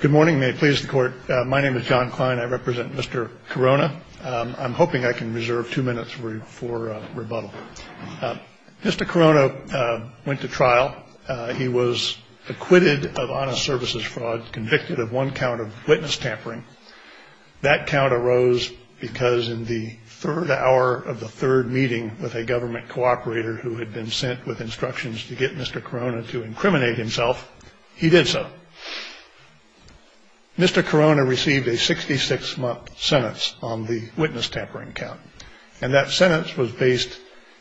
Good morning. My name is John Klein. I represent Mr. Carona. I'm hoping I can reserve two minutes for rebuttal. Mr. Carona went to trial. He was acquitted of honest services fraud, convicted of one count of witness tampering. That count arose because in the third hour of the third meeting with a government cooperator who had been sent with instructions to get Mr. Carona to incriminate himself, he did so. Mr. Carona received a 66-month sentence on the witness tampering count. And that sentence was based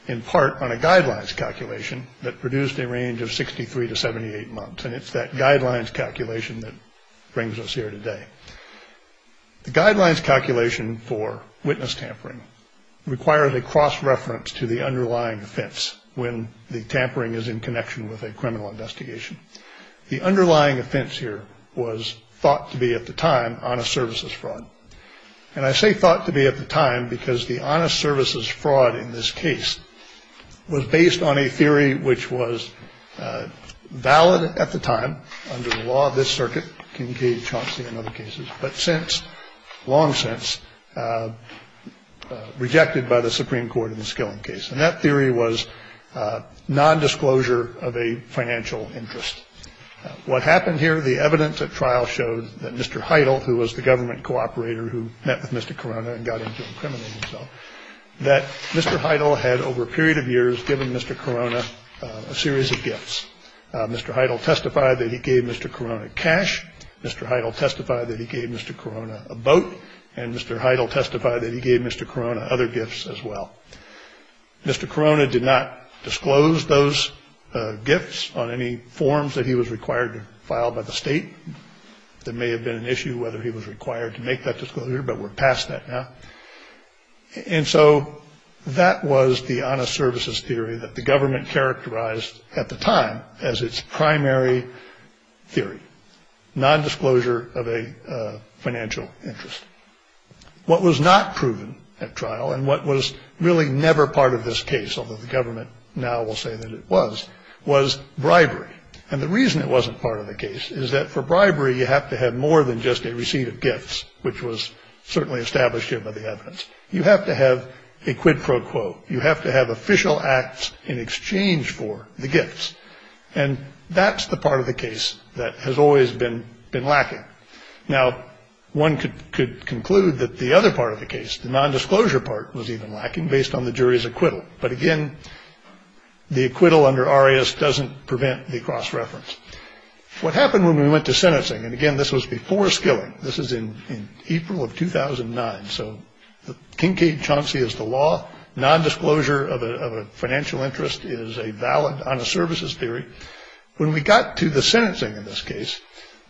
in part on a guidelines calculation that produced a range of 63 to 78 months. And it's that guidelines calculation that brings us here today. The guidelines calculation for witness tampering requires a cross-reference to the underlying offense when the tampering is in connection with a criminal investigation. The underlying offense here was thought to be at the time honest services fraud. And I say thought to be at the time because the honest services fraud in this case was based on a theory which was valid at the time under the law of this circuit, Kincaid-Chompsky and other cases, but since, long since, rejected by the Supreme Court in the Skilling case. And that theory was nondisclosure of a financial interest. What happened here, the evidence at trial showed that Mr. Heidel, who was the government cooperator who met with Mr. Carona and got him to incriminate himself, that Mr. Heidel had over a period of years given Mr. Carona a series of gifts. Mr. Heidel testified that he gave Mr. Carona cash. Mr. Heidel testified that he gave Mr. Carona a boat. And Mr. Heidel testified that he gave Mr. Carona other gifts as well. Mr. Carona did not disclose those gifts on any forms that he was required to file by the state. There may have been an issue whether he was required to make that disclosure, but we're past that now. And so that was the honest services theory that the government characterized at the time as its primary theory, nondisclosure of a financial interest. What was not proven at trial and what was really never part of this case, although the government now will say that it was, was bribery. And the reason it wasn't part of the case is that for bribery, you have to have more than just a receipt of gifts, which was certainly established here by the evidence. You have to have a quid pro quo. You have to have official acts in exchange for the gifts. And that's the part of the case that has always been lacking. Now, one could conclude that the other part of the case, the nondisclosure part was even lacking based on the jury's acquittal. But again, the acquittal under Arias doesn't prevent the cross-reference. What happened when we went to sentencing? And again, this was before skilling. This is in April of 2009. So the Kincaid-Chauncey is the law. Nondisclosure of a financial interest is a valid honest services theory. When we got to the sentencing in this case,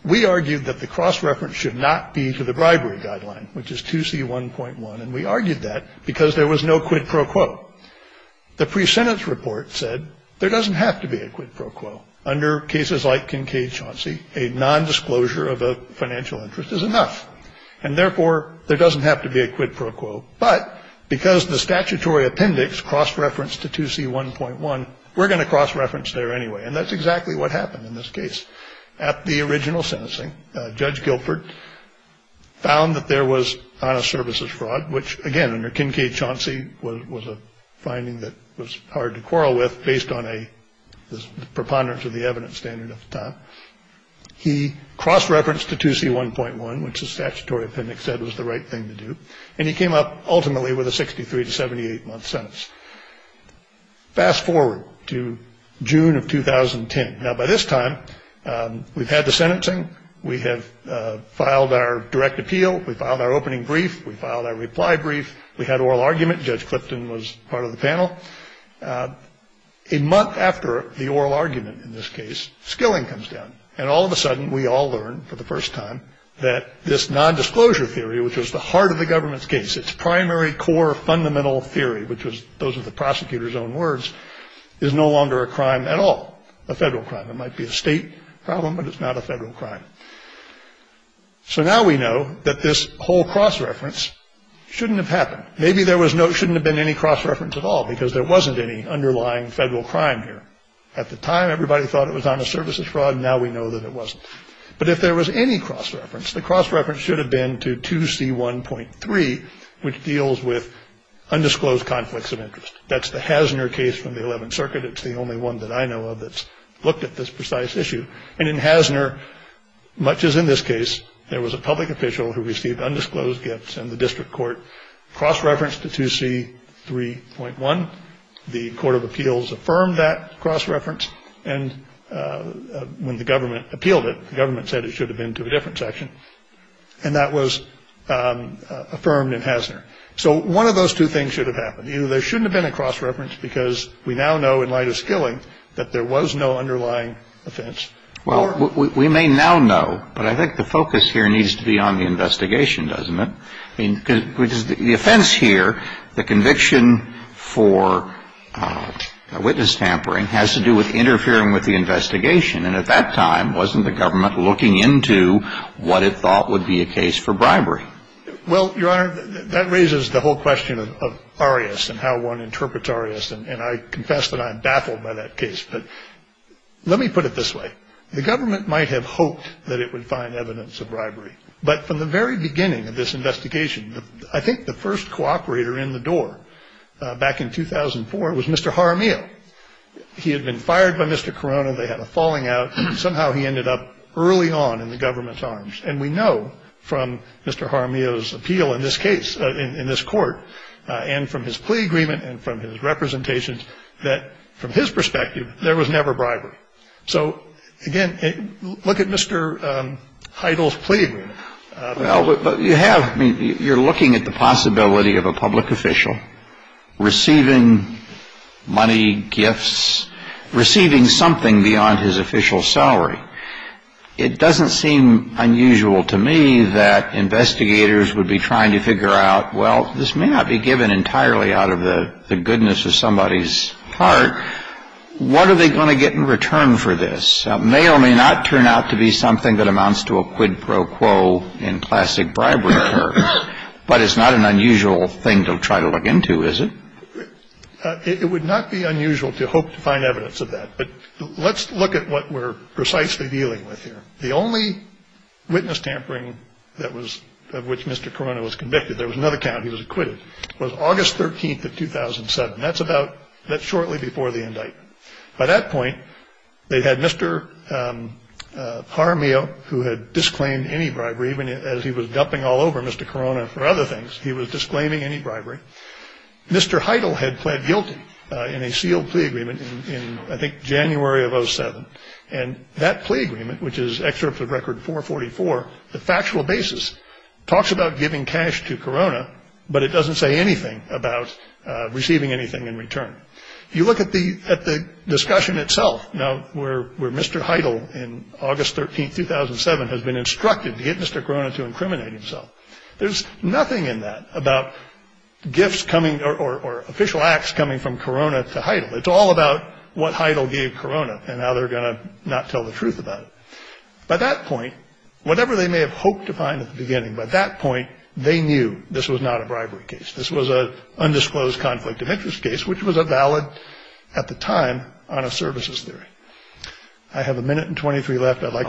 we argued that the cross-reference should not be to the bribery guideline, which is 2C1.1. And we argued that because there was no quid pro quo. The pre-sentence report said there doesn't have to be a quid pro quo. Under cases like Kincaid-Chauncey, a nondisclosure of a financial interest is enough. And therefore, there doesn't have to be a quid pro quo. But because the statutory appendix cross-referenced to 2C1.1, we're going to cross-reference there anyway. And that's exactly what happened in this case. At the original sentencing, Judge Gilford found that there was honest services fraud, which, again, under Kincaid-Chauncey was a finding that was hard to quarrel with based on a preponderance of the evidence standard at the time. He crossed-referenced to 2C1.1, which the statutory appendix said was the right thing to do. And he came up, ultimately, with a 63- to 78-month sentence. Fast forward to June of 2010. Now, by this time, we've had the sentencing. We have filed our direct appeal. We filed our opening brief. We filed our reply brief. We had oral argument. Judge Clifton was part of the panel. A month after the oral argument in this case, skilling comes down. And all of a sudden, we all learn for the first time that this nondisclosure theory, which was the heart of the government's case, its primary core fundamental theory, which was those were the prosecutor's own words, is no longer a crime at all, a federal crime. It might be a state problem, but it's not a federal crime. So now we know that this whole cross-reference shouldn't have happened. Maybe there shouldn't have been any cross-reference at all, because there wasn't any underlying federal crime here. At the time, everybody thought it was honest services fraud, and now we know that it wasn't. But if there was any cross-reference, the cross-reference should have been to 2C1.3, which deals with undisclosed conflicts of interest. That's the Hasner case from the Eleventh Circuit. It's the only one that I know of that's looked at this precise issue. And in Hasner, much as in this case, there was a public official who received undisclosed gifts, and the district court cross-referenced to 2C3.1. The Court of Appeals affirmed that cross-reference, and when the government appealed it, the government said it should have been to a different section. And that was affirmed in Hasner. So one of those two things should have happened. Either there shouldn't have been a cross-reference, because we now know in light of Skilling that there was no underlying offense. Well, we may now know, but I think the focus here needs to be on the investigation, doesn't it? Because the offense here, the conviction for witness tampering, has to do with interfering with the investigation. And at that time, wasn't the government looking into what it thought would be a case for bribery? Well, Your Honor, that raises the whole question of arias and how one interprets arias, and I confess that I'm baffled by that case. But let me put it this way. The government might have hoped that it would find evidence of bribery, but from the very beginning of this investigation, I think the first cooperator in the door back in 2004 was Mr. Jaramillo. He had been fired by Mr. Corona. They had a falling out. Somehow he ended up early on in the government's arms. And we know from Mr. Jaramillo's appeal in this case, in this court, and from his plea agreement and from his representations, that from his perspective, there was never bribery. So, again, look at Mr. Heidel's plea agreement. Well, you have, you're looking at the possibility of a public official receiving money, gifts, receiving something beyond his official salary. It doesn't seem unusual to me that investigators would be trying to figure out, well, this may not be given entirely out of the goodness of somebody's heart. What are they going to get in return for this? It may or may not turn out to be something that amounts to a quid pro quo in classic bribery terms. But it's not an unusual thing to try to look into, is it? It would not be unusual to hope to find evidence of that. But let's look at what we're precisely dealing with here. The only witness tampering that was of which Mr. Corona was convicted, there was another count he was acquitted, was August 13th of 2007. That's about that shortly before the indictment. By that point, they had Mr. Jaramillo, who had disclaimed any bribery, even as he was dumping all over Mr. Corona for other things. He was disclaiming any bribery. Mr. Heidel had pled guilty in a sealed plea agreement in, I think, January of 07. And that plea agreement, which is excerpt of Record 444, the factual basis, talks about giving cash to Corona, but it doesn't say anything about receiving anything in return. If you look at the discussion itself, now, where Mr. Heidel, in August 13th, 2007, has been instructed to get Mr. Corona to incriminate himself, there's nothing in that about gifts coming or official acts coming from Corona to Heidel. It's all about what Heidel gave Corona, and how they're going to not tell the truth about it. By that point, whatever they may have hoped to find at the beginning, by that point, they knew this was not a bribery case. This was an undisclosed conflict of interest case, which was valid at the time on a services theory. I have a minute and 23 left. Can I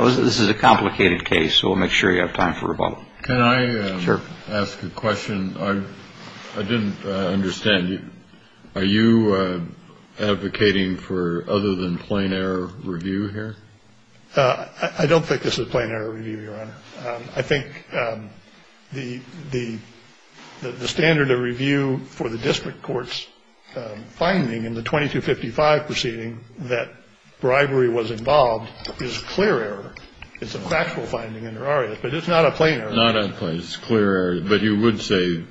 ask a question? I didn't understand. Are you advocating for other than plain error review here? I don't think this is plain error review, Your Honor. I think the standard of review for the district court's finding in the 2255 proceeding that bribery was involved is clear error. It's a factual finding, but it's not a plain error. Not a plain error, but you would say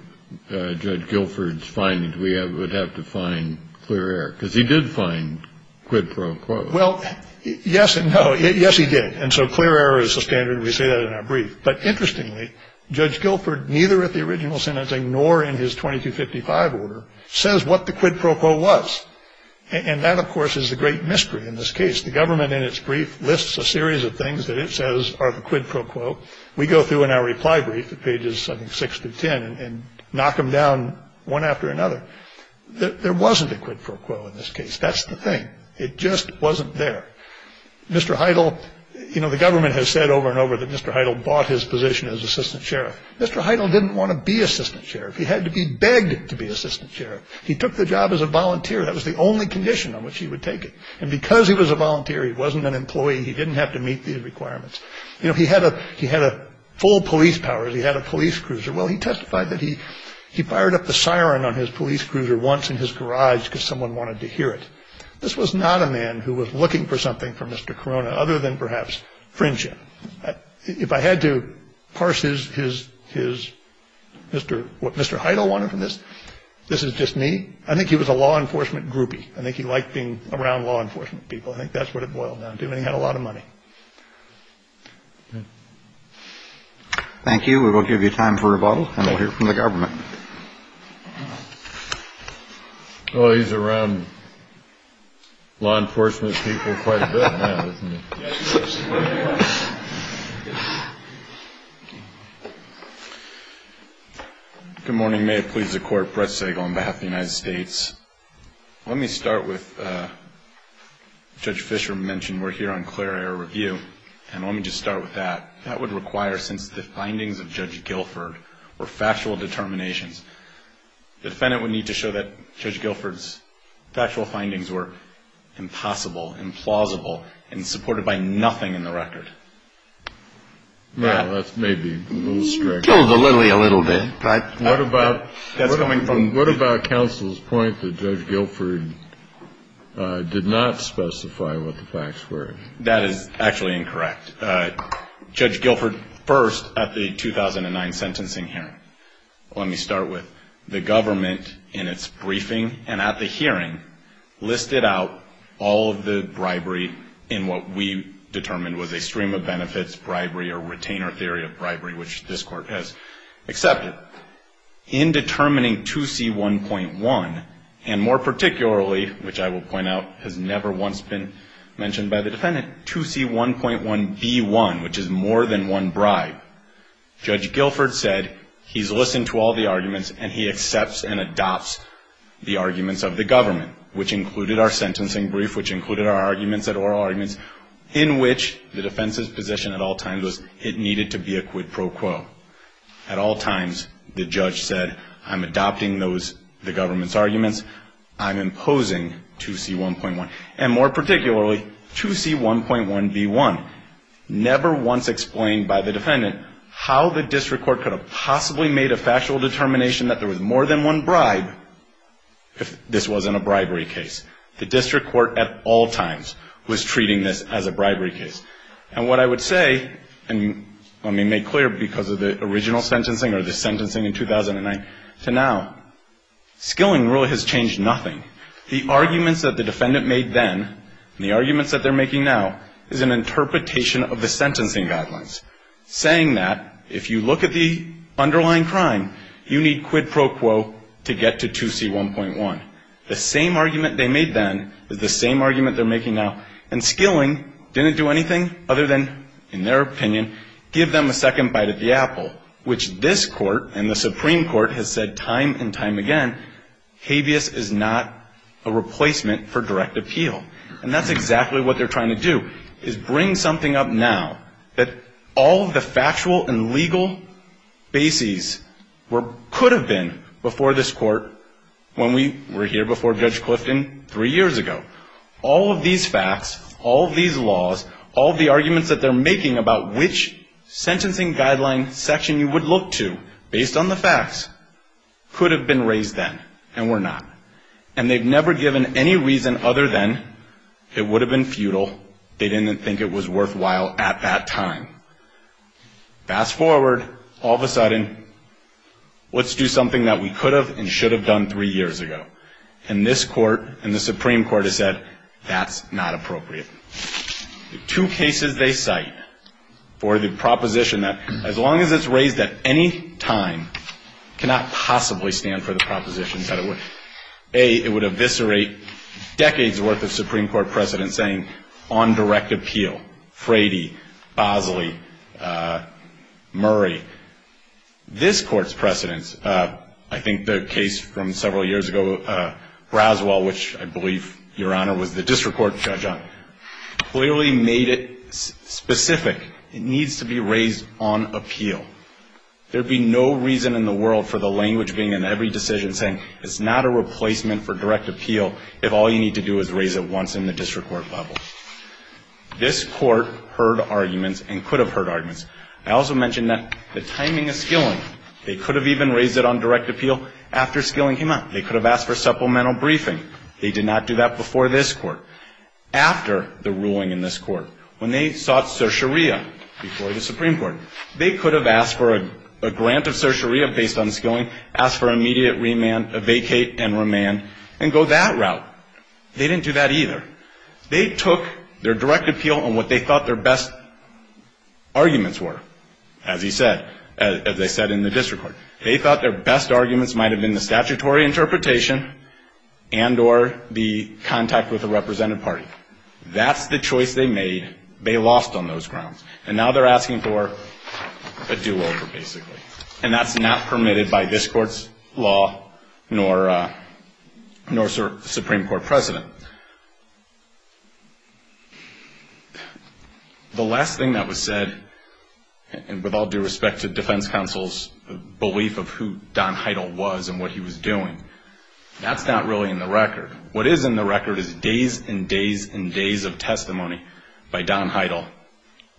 Judge Guilford's findings, we would have to find clear error, because he did find quid pro quo. Well, yes and no. Yes, he did. And so clear error is the standard. We say that in our brief. But interestingly, Judge Guilford, neither at the original sentencing nor in his 2255 order, says what the quid pro quo was. And that, of course, is the great mystery in this case. The government in its brief lists a series of things that it says are the quid pro quo. We go through in our reply brief at pages six to 10 and knock them down one after another. There wasn't a quid pro quo in this case. That's the thing. It just wasn't there. Mr. Heidel. You know, the government has said over and over that Mr. Heidel bought his position as assistant sheriff. Mr. Heidel didn't want to be assistant sheriff. He had to be begged to be assistant sheriff. He took the job as a volunteer. That was the only condition on which he would take it. And because he was a volunteer, he wasn't an employee. He didn't have to meet the requirements. You know, he had a he had a full police powers. He had a police cruiser. Well, he testified that he he fired up the siren on his police cruiser once in his garage because someone wanted to hear it. This was not a man who was looking for something for Mr. Corona other than perhaps friendship. If I had to parse his his his Mr. what Mr. Heidel wanted from this, this is just me. I think he was a law enforcement groupie. I think he liked being around law enforcement people. I think that's what it boiled down to. And he had a lot of money. Thank you. We will give you time for rebuttal and we'll hear from the government. Well, he's around law enforcement people quite a bit. Good morning. May it please the court. Pressing on behalf of the United States. Let me start with Judge Fisher mentioned. We're here on clear air review. And let me just start with that. That would require sensitive findings of Judge Guilford or factual determinations. The defendant would need to show that Judge Guilford's factual findings were impossible, implausible and supported by nothing in the record. That's maybe a little bit. What about that's coming from? What about counsel's point that Judge Guilford did not specify what the facts were? That is actually incorrect. Judge Guilford first at the 2009 sentencing hearing. Let me start with the government in its briefing and at the hearing listed out all of the bribery in what we determined was a stream of benefits. Bribery or retainer theory of bribery, which this court has accepted in determining to see one point one. And more particularly, which I will point out, has never once been mentioned by the defendant to see one point one B1, which is more than one bribe. Judge Guilford said he's listened to all the arguments and he accepts and adopts the arguments of the government, which included our sentencing brief, which included our arguments at oral arguments in which the defense's position at all times was it needed to be a quid pro quo. At all times, the judge said, I'm adopting those the government's arguments. I'm imposing to see one point one and more particularly to see one point one B1. Never once explained by the defendant how the district court could have possibly made a factual determination that there was more than one bribe. If this wasn't a bribery case. The district court at all times was treating this as a bribery case. And what I would say, and let me make clear because of the original sentencing or the sentencing in 2009 to now, skilling really has changed nothing. The arguments that the defendant made then and the arguments that they're making now is an interpretation of the sentencing guidelines, saying that if you look at the underlying crime, you need quid pro quo to get to 2C1.1. The same argument they made then is the same argument they're making now. And skilling didn't do anything other than, in their opinion, give them a second bite of the apple, which this court and the Supreme Court has said time and time again, habeas is not a replacement for direct appeal. And that's exactly what they're trying to do, is bring something up now that all of the factual and legal bases could have been before this court when we were here before Judge Clifton three years ago. All of these facts, all of these laws, all of the arguments that they're making about which sentencing guideline section you would look to based on the facts could have been raised then and were not. And they've never given any reason other than it would have been futile. They didn't think it was worthwhile at that time. Fast forward, all of a sudden, let's do something that we could have and should have done three years ago. And this court and the Supreme Court has said that's not appropriate. Two cases they cite for the proposition that, as long as it's raised at any time, cannot possibly stand for the proposition that it would. A, it would eviscerate decades' worth of Supreme Court precedents saying on direct appeal, Frady, Bosley, Murray. This court's precedents, I think the case from several years ago, Roswell, which I believe, Your Honor, was the district court judge on. Clearly made it specific. It needs to be raised on appeal. There'd be no reason in the world for the language being in every decision saying it's not a replacement for direct appeal if all you need to do is raise it once in the district court level. This court heard arguments and could have heard arguments. I also mentioned that the timing of skilling, they could have even raised it on direct appeal after skilling came out. They could have asked for supplemental briefing. They did not do that before this court. After the ruling in this court, when they sought certiorari before the Supreme Court, they could have asked for a grant of certiorari based on skilling, asked for immediate remand, vacate and remand, and go that route. They didn't do that either. They took their direct appeal on what they thought their best arguments were, as he said, as they said in the district court. They thought their best arguments might have been the statutory interpretation and or the contact with a representative party. That's the choice they made. They lost on those grounds. And now they're asking for a do-over, basically. And that's not permitted by this court's law nor Supreme Court precedent. The last thing that was said, and with all due respect to defense counsel's belief of who Don Heidel was and what he was doing, that's not really in the record. What is in the record is days and days and days of testimony by Don Heidel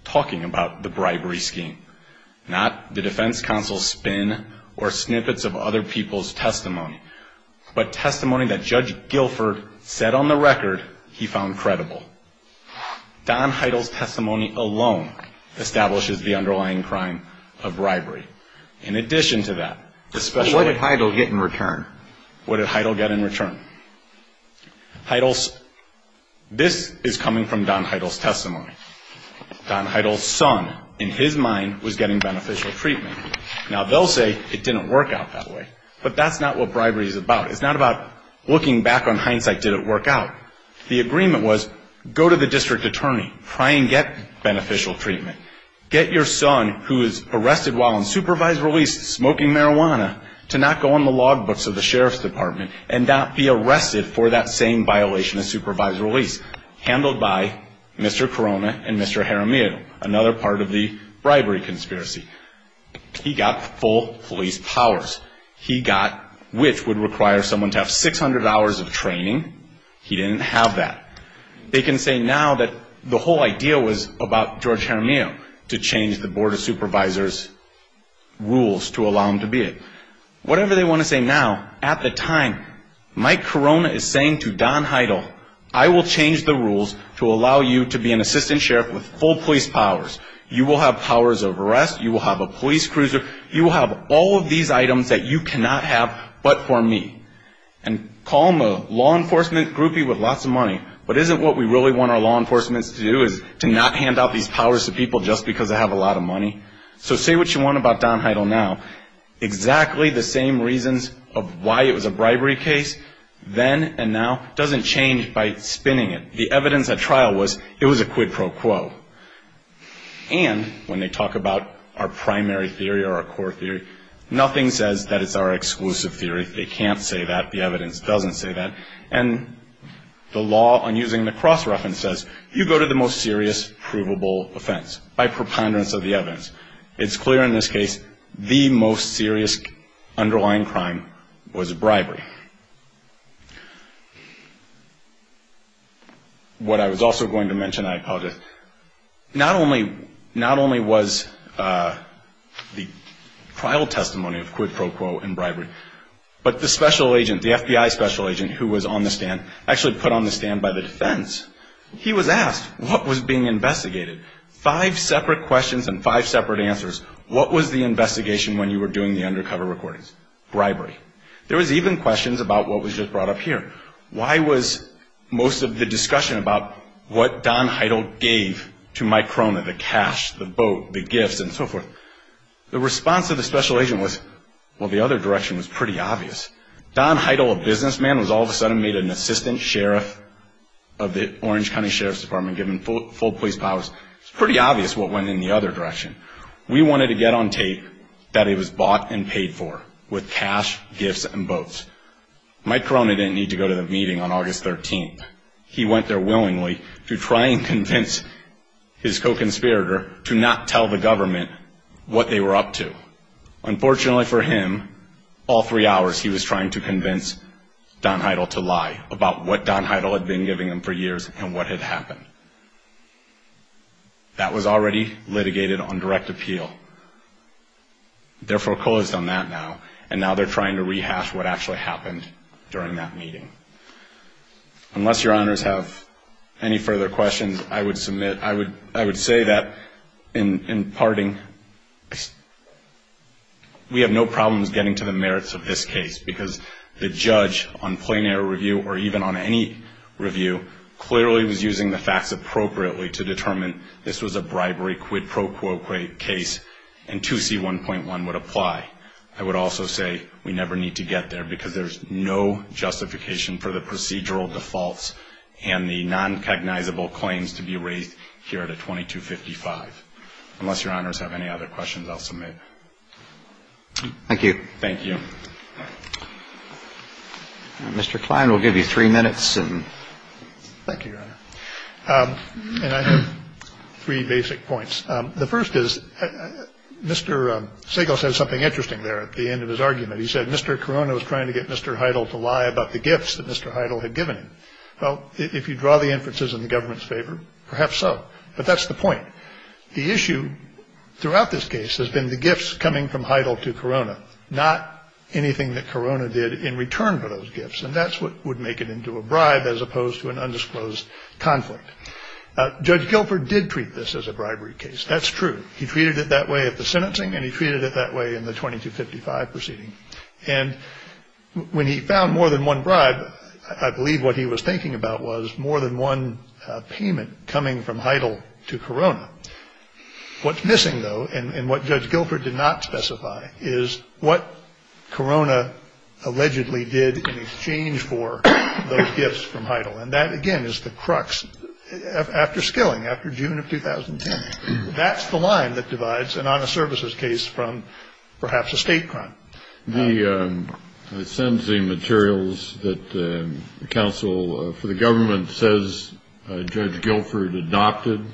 talking about the bribery scheme, not the defense counsel's spin or snippets of other people's testimony, but testimony that Judge Guilford said on the record he found credible. Don Heidel's testimony alone establishes the underlying crime of bribery. In addition to that, especially... What did Heidel get in return? What did Heidel get in return? Heidel's... This is coming from Don Heidel's testimony. Don Heidel's son, in his mind, was getting beneficial treatment. Now they'll say it didn't work out that way. But that's not what bribery is about. It's not about looking back on hindsight, did it work out? The agreement was, go to the district attorney, try and get beneficial treatment. Get your son, who is arrested while on supervised release smoking marijuana, to not go on the log books of the sheriff's department and not be arrested for that same violation of supervised release, handled by Mr. Corona and Mr. Jaramillo, another part of the bribery conspiracy. He got full police powers, which would require someone to have 600 hours of training. He didn't have that. They can say now that the whole idea was about George Jaramillo, to change the Board of Supervisors' rules to allow him to be it. Whatever they want to say now, at the time, Mike Corona is saying to Don Heidel, I will change the rules to allow you to be an assistant sheriff with full police powers. You will have powers of arrest, you will have a police cruiser, you will have all of these items that you cannot have but for me. And call him a law enforcement groupie with lots of money, but isn't what we really want our law enforcement to do is to not hand out these powers to people just because they have a lot of money? So say what you want about Don Heidel now. Exactly the same reasons of why it was a bribery case then and now doesn't change by spinning it. The evidence at trial was it was a quid pro quo. And when they talk about our primary theory or our core theory, nothing says that it's our exclusive theory. They can't say that. The evidence doesn't say that. And the law on using the cross reference says you go to the most serious provable offense by preponderance of the evidence. It's clear in this case the most serious underlying crime was bribery. What I was also going to mention, I apologize, not only was the trial testimony of quid pro quo in bribery, but the special agent, the FBI special agent who was on the stand, actually put on the stand by the defense, he was asked what was being investigated. Five separate questions and five separate answers. What was the investigation when you were doing the undercover recordings? Bribery. There was even questions about what was just brought up here. Why was most of the discussion about what Don Heidel gave to Mike Cronin, the cash, the boat, the gifts, and so forth? The response of the special agent was, well, the other direction was pretty obvious. Don Heidel, a businessman, was all of a sudden made an assistant sheriff of the Orange County Sheriff's Department, given full police powers. It's pretty obvious what went in the other direction. We wanted to get on tape that it was bought and paid for with cash, gifts, and boats. Mike Cronin didn't need to go to the meeting on August 13th. He went there willingly to try and convince his co-conspirator to not tell the government what they were up to. Unfortunately for him, all three hours he was trying to convince Don Heidel to lie about what Don Heidel had been giving him for years and what had happened. That was already litigated on direct appeal. Therefore, COLA has done that now, and now they're trying to rehash what actually happened during that meeting. Unless Your Honors have any further questions, I would say that in parting, we have no problems getting to the merits of this case because the judge on plain air review or even on any review clearly was using the facts appropriately to determine this was a bribery, quid pro quo case, and 2C1.1 would apply. I would also say we never need to get there because there's no justification for the procedural defaults and the non-cognizable claims to be raised here at a 2255. Unless Your Honors have any other questions, I'll submit. Thank you. Thank you. Mr. Klein will give you three minutes. Thank you, Your Honor. And I have three basic points. The first is Mr. Segal said something interesting there at the end of his argument. He said Mr. Corona was trying to get Mr. Heidel to lie about the gifts that Mr. Heidel had given him. Well, if you draw the inferences in the government's favor, perhaps so. But that's the point. The issue throughout this case has been the gifts coming from Heidel to Corona, not anything that Corona did in return for those gifts. And that's what would make it into a bribe as opposed to an undisclosed conflict. Judge Gilford did treat this as a bribery case. That's true. He treated it that way at the sentencing and he treated it that way in the 2255 proceeding. And when he found more than one bribe, I believe what he was thinking about was more than one payment coming from Heidel to Corona. What's missing, though, and what Judge Gilford did not specify, is what Corona allegedly did in exchange for those gifts from Heidel. And that, again, is the crux after Skilling, after June of 2010. That's the line that divides an honest services case from perhaps a state crime. The sentencing materials that counsel for the government says Judge Gilford adopted,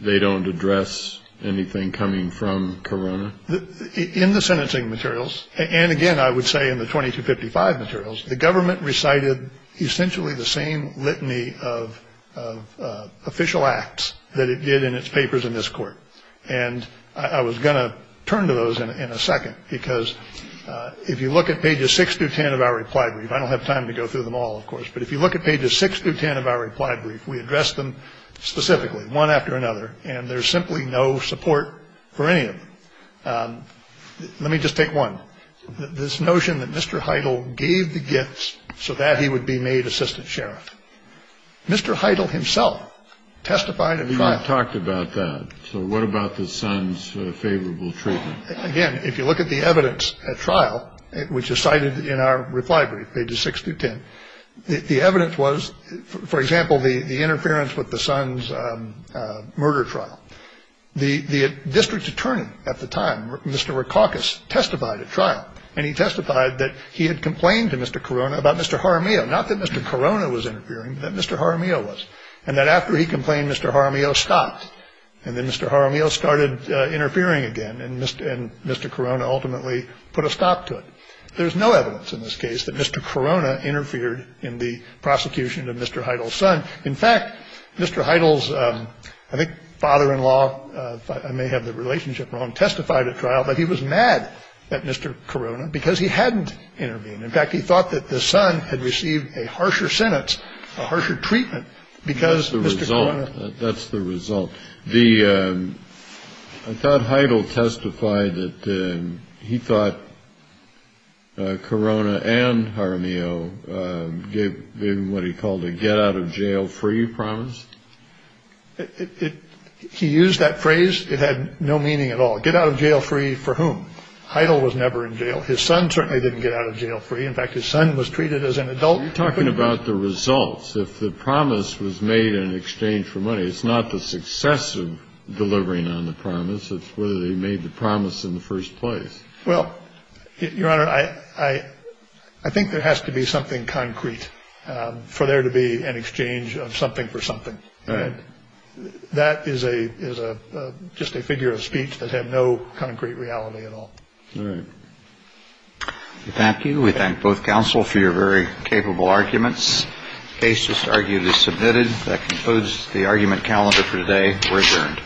they don't address anything coming from Corona? In the sentencing materials, and again, I would say in the 2255 materials, the government recited essentially the same litany of official acts that it did in its papers in this court. And I was going to turn to those in a second, because if you look at pages 6 through 10 of our reply brief, I don't have time to go through them all, of course, but if you look at pages 6 through 10 of our reply brief, we address them specifically, one after another, and there's simply no support for any of them. Let me just take one. This notion that Mr. Heidel gave the gifts so that he would be made assistant sheriff. Mr. Heidel himself testified in trial. Heidel talked about that. So what about the son's favorable treatment? Again, if you look at the evidence at trial, which is cited in our reply brief, pages 6 through 10, the evidence was, for example, the interference with the son's murder trial. The district attorney at the time, Mr. Rikakis, testified at trial, and he testified that he had complained to Mr. Corona about Mr. Jaramillo, not that Mr. Corona was interfering, but that Mr. Jaramillo was, and that after he complained, Mr. Jaramillo stopped, and then Mr. Jaramillo started interfering again, and Mr. Corona ultimately put a stop to it. There's no evidence in this case that Mr. Corona interfered in the prosecution of Mr. Heidel's son. In fact, Mr. Heidel's, I think, father-in-law, I may have the relationship wrong, testified at trial, but he was mad at Mr. Corona because he hadn't intervened. In fact, he thought that the son had received a harsher sentence, a harsher treatment, because Mr. Corona- That's the result. I thought Heidel testified that he thought Corona and Jaramillo gave him what he called a get-out-of-jail-free promise. He used that phrase. It had no meaning at all. Get-out-of-jail-free for whom? Heidel was never in jail. His son certainly didn't get out of jail free. In fact, his son was treated as an adult. You're talking about the results. If the promise was made in exchange for money, it's not the success of delivering on the promise. It's whether they made the promise in the first place. Well, Your Honor, I think there has to be something concrete for there to be an exchange of something for something. That is just a figure of speech that had no concrete reality at all. All right. Thank you. We thank both counsel for your very capable arguments. The case is arguably submitted. That concludes the argument calendar for today. We're adjourned.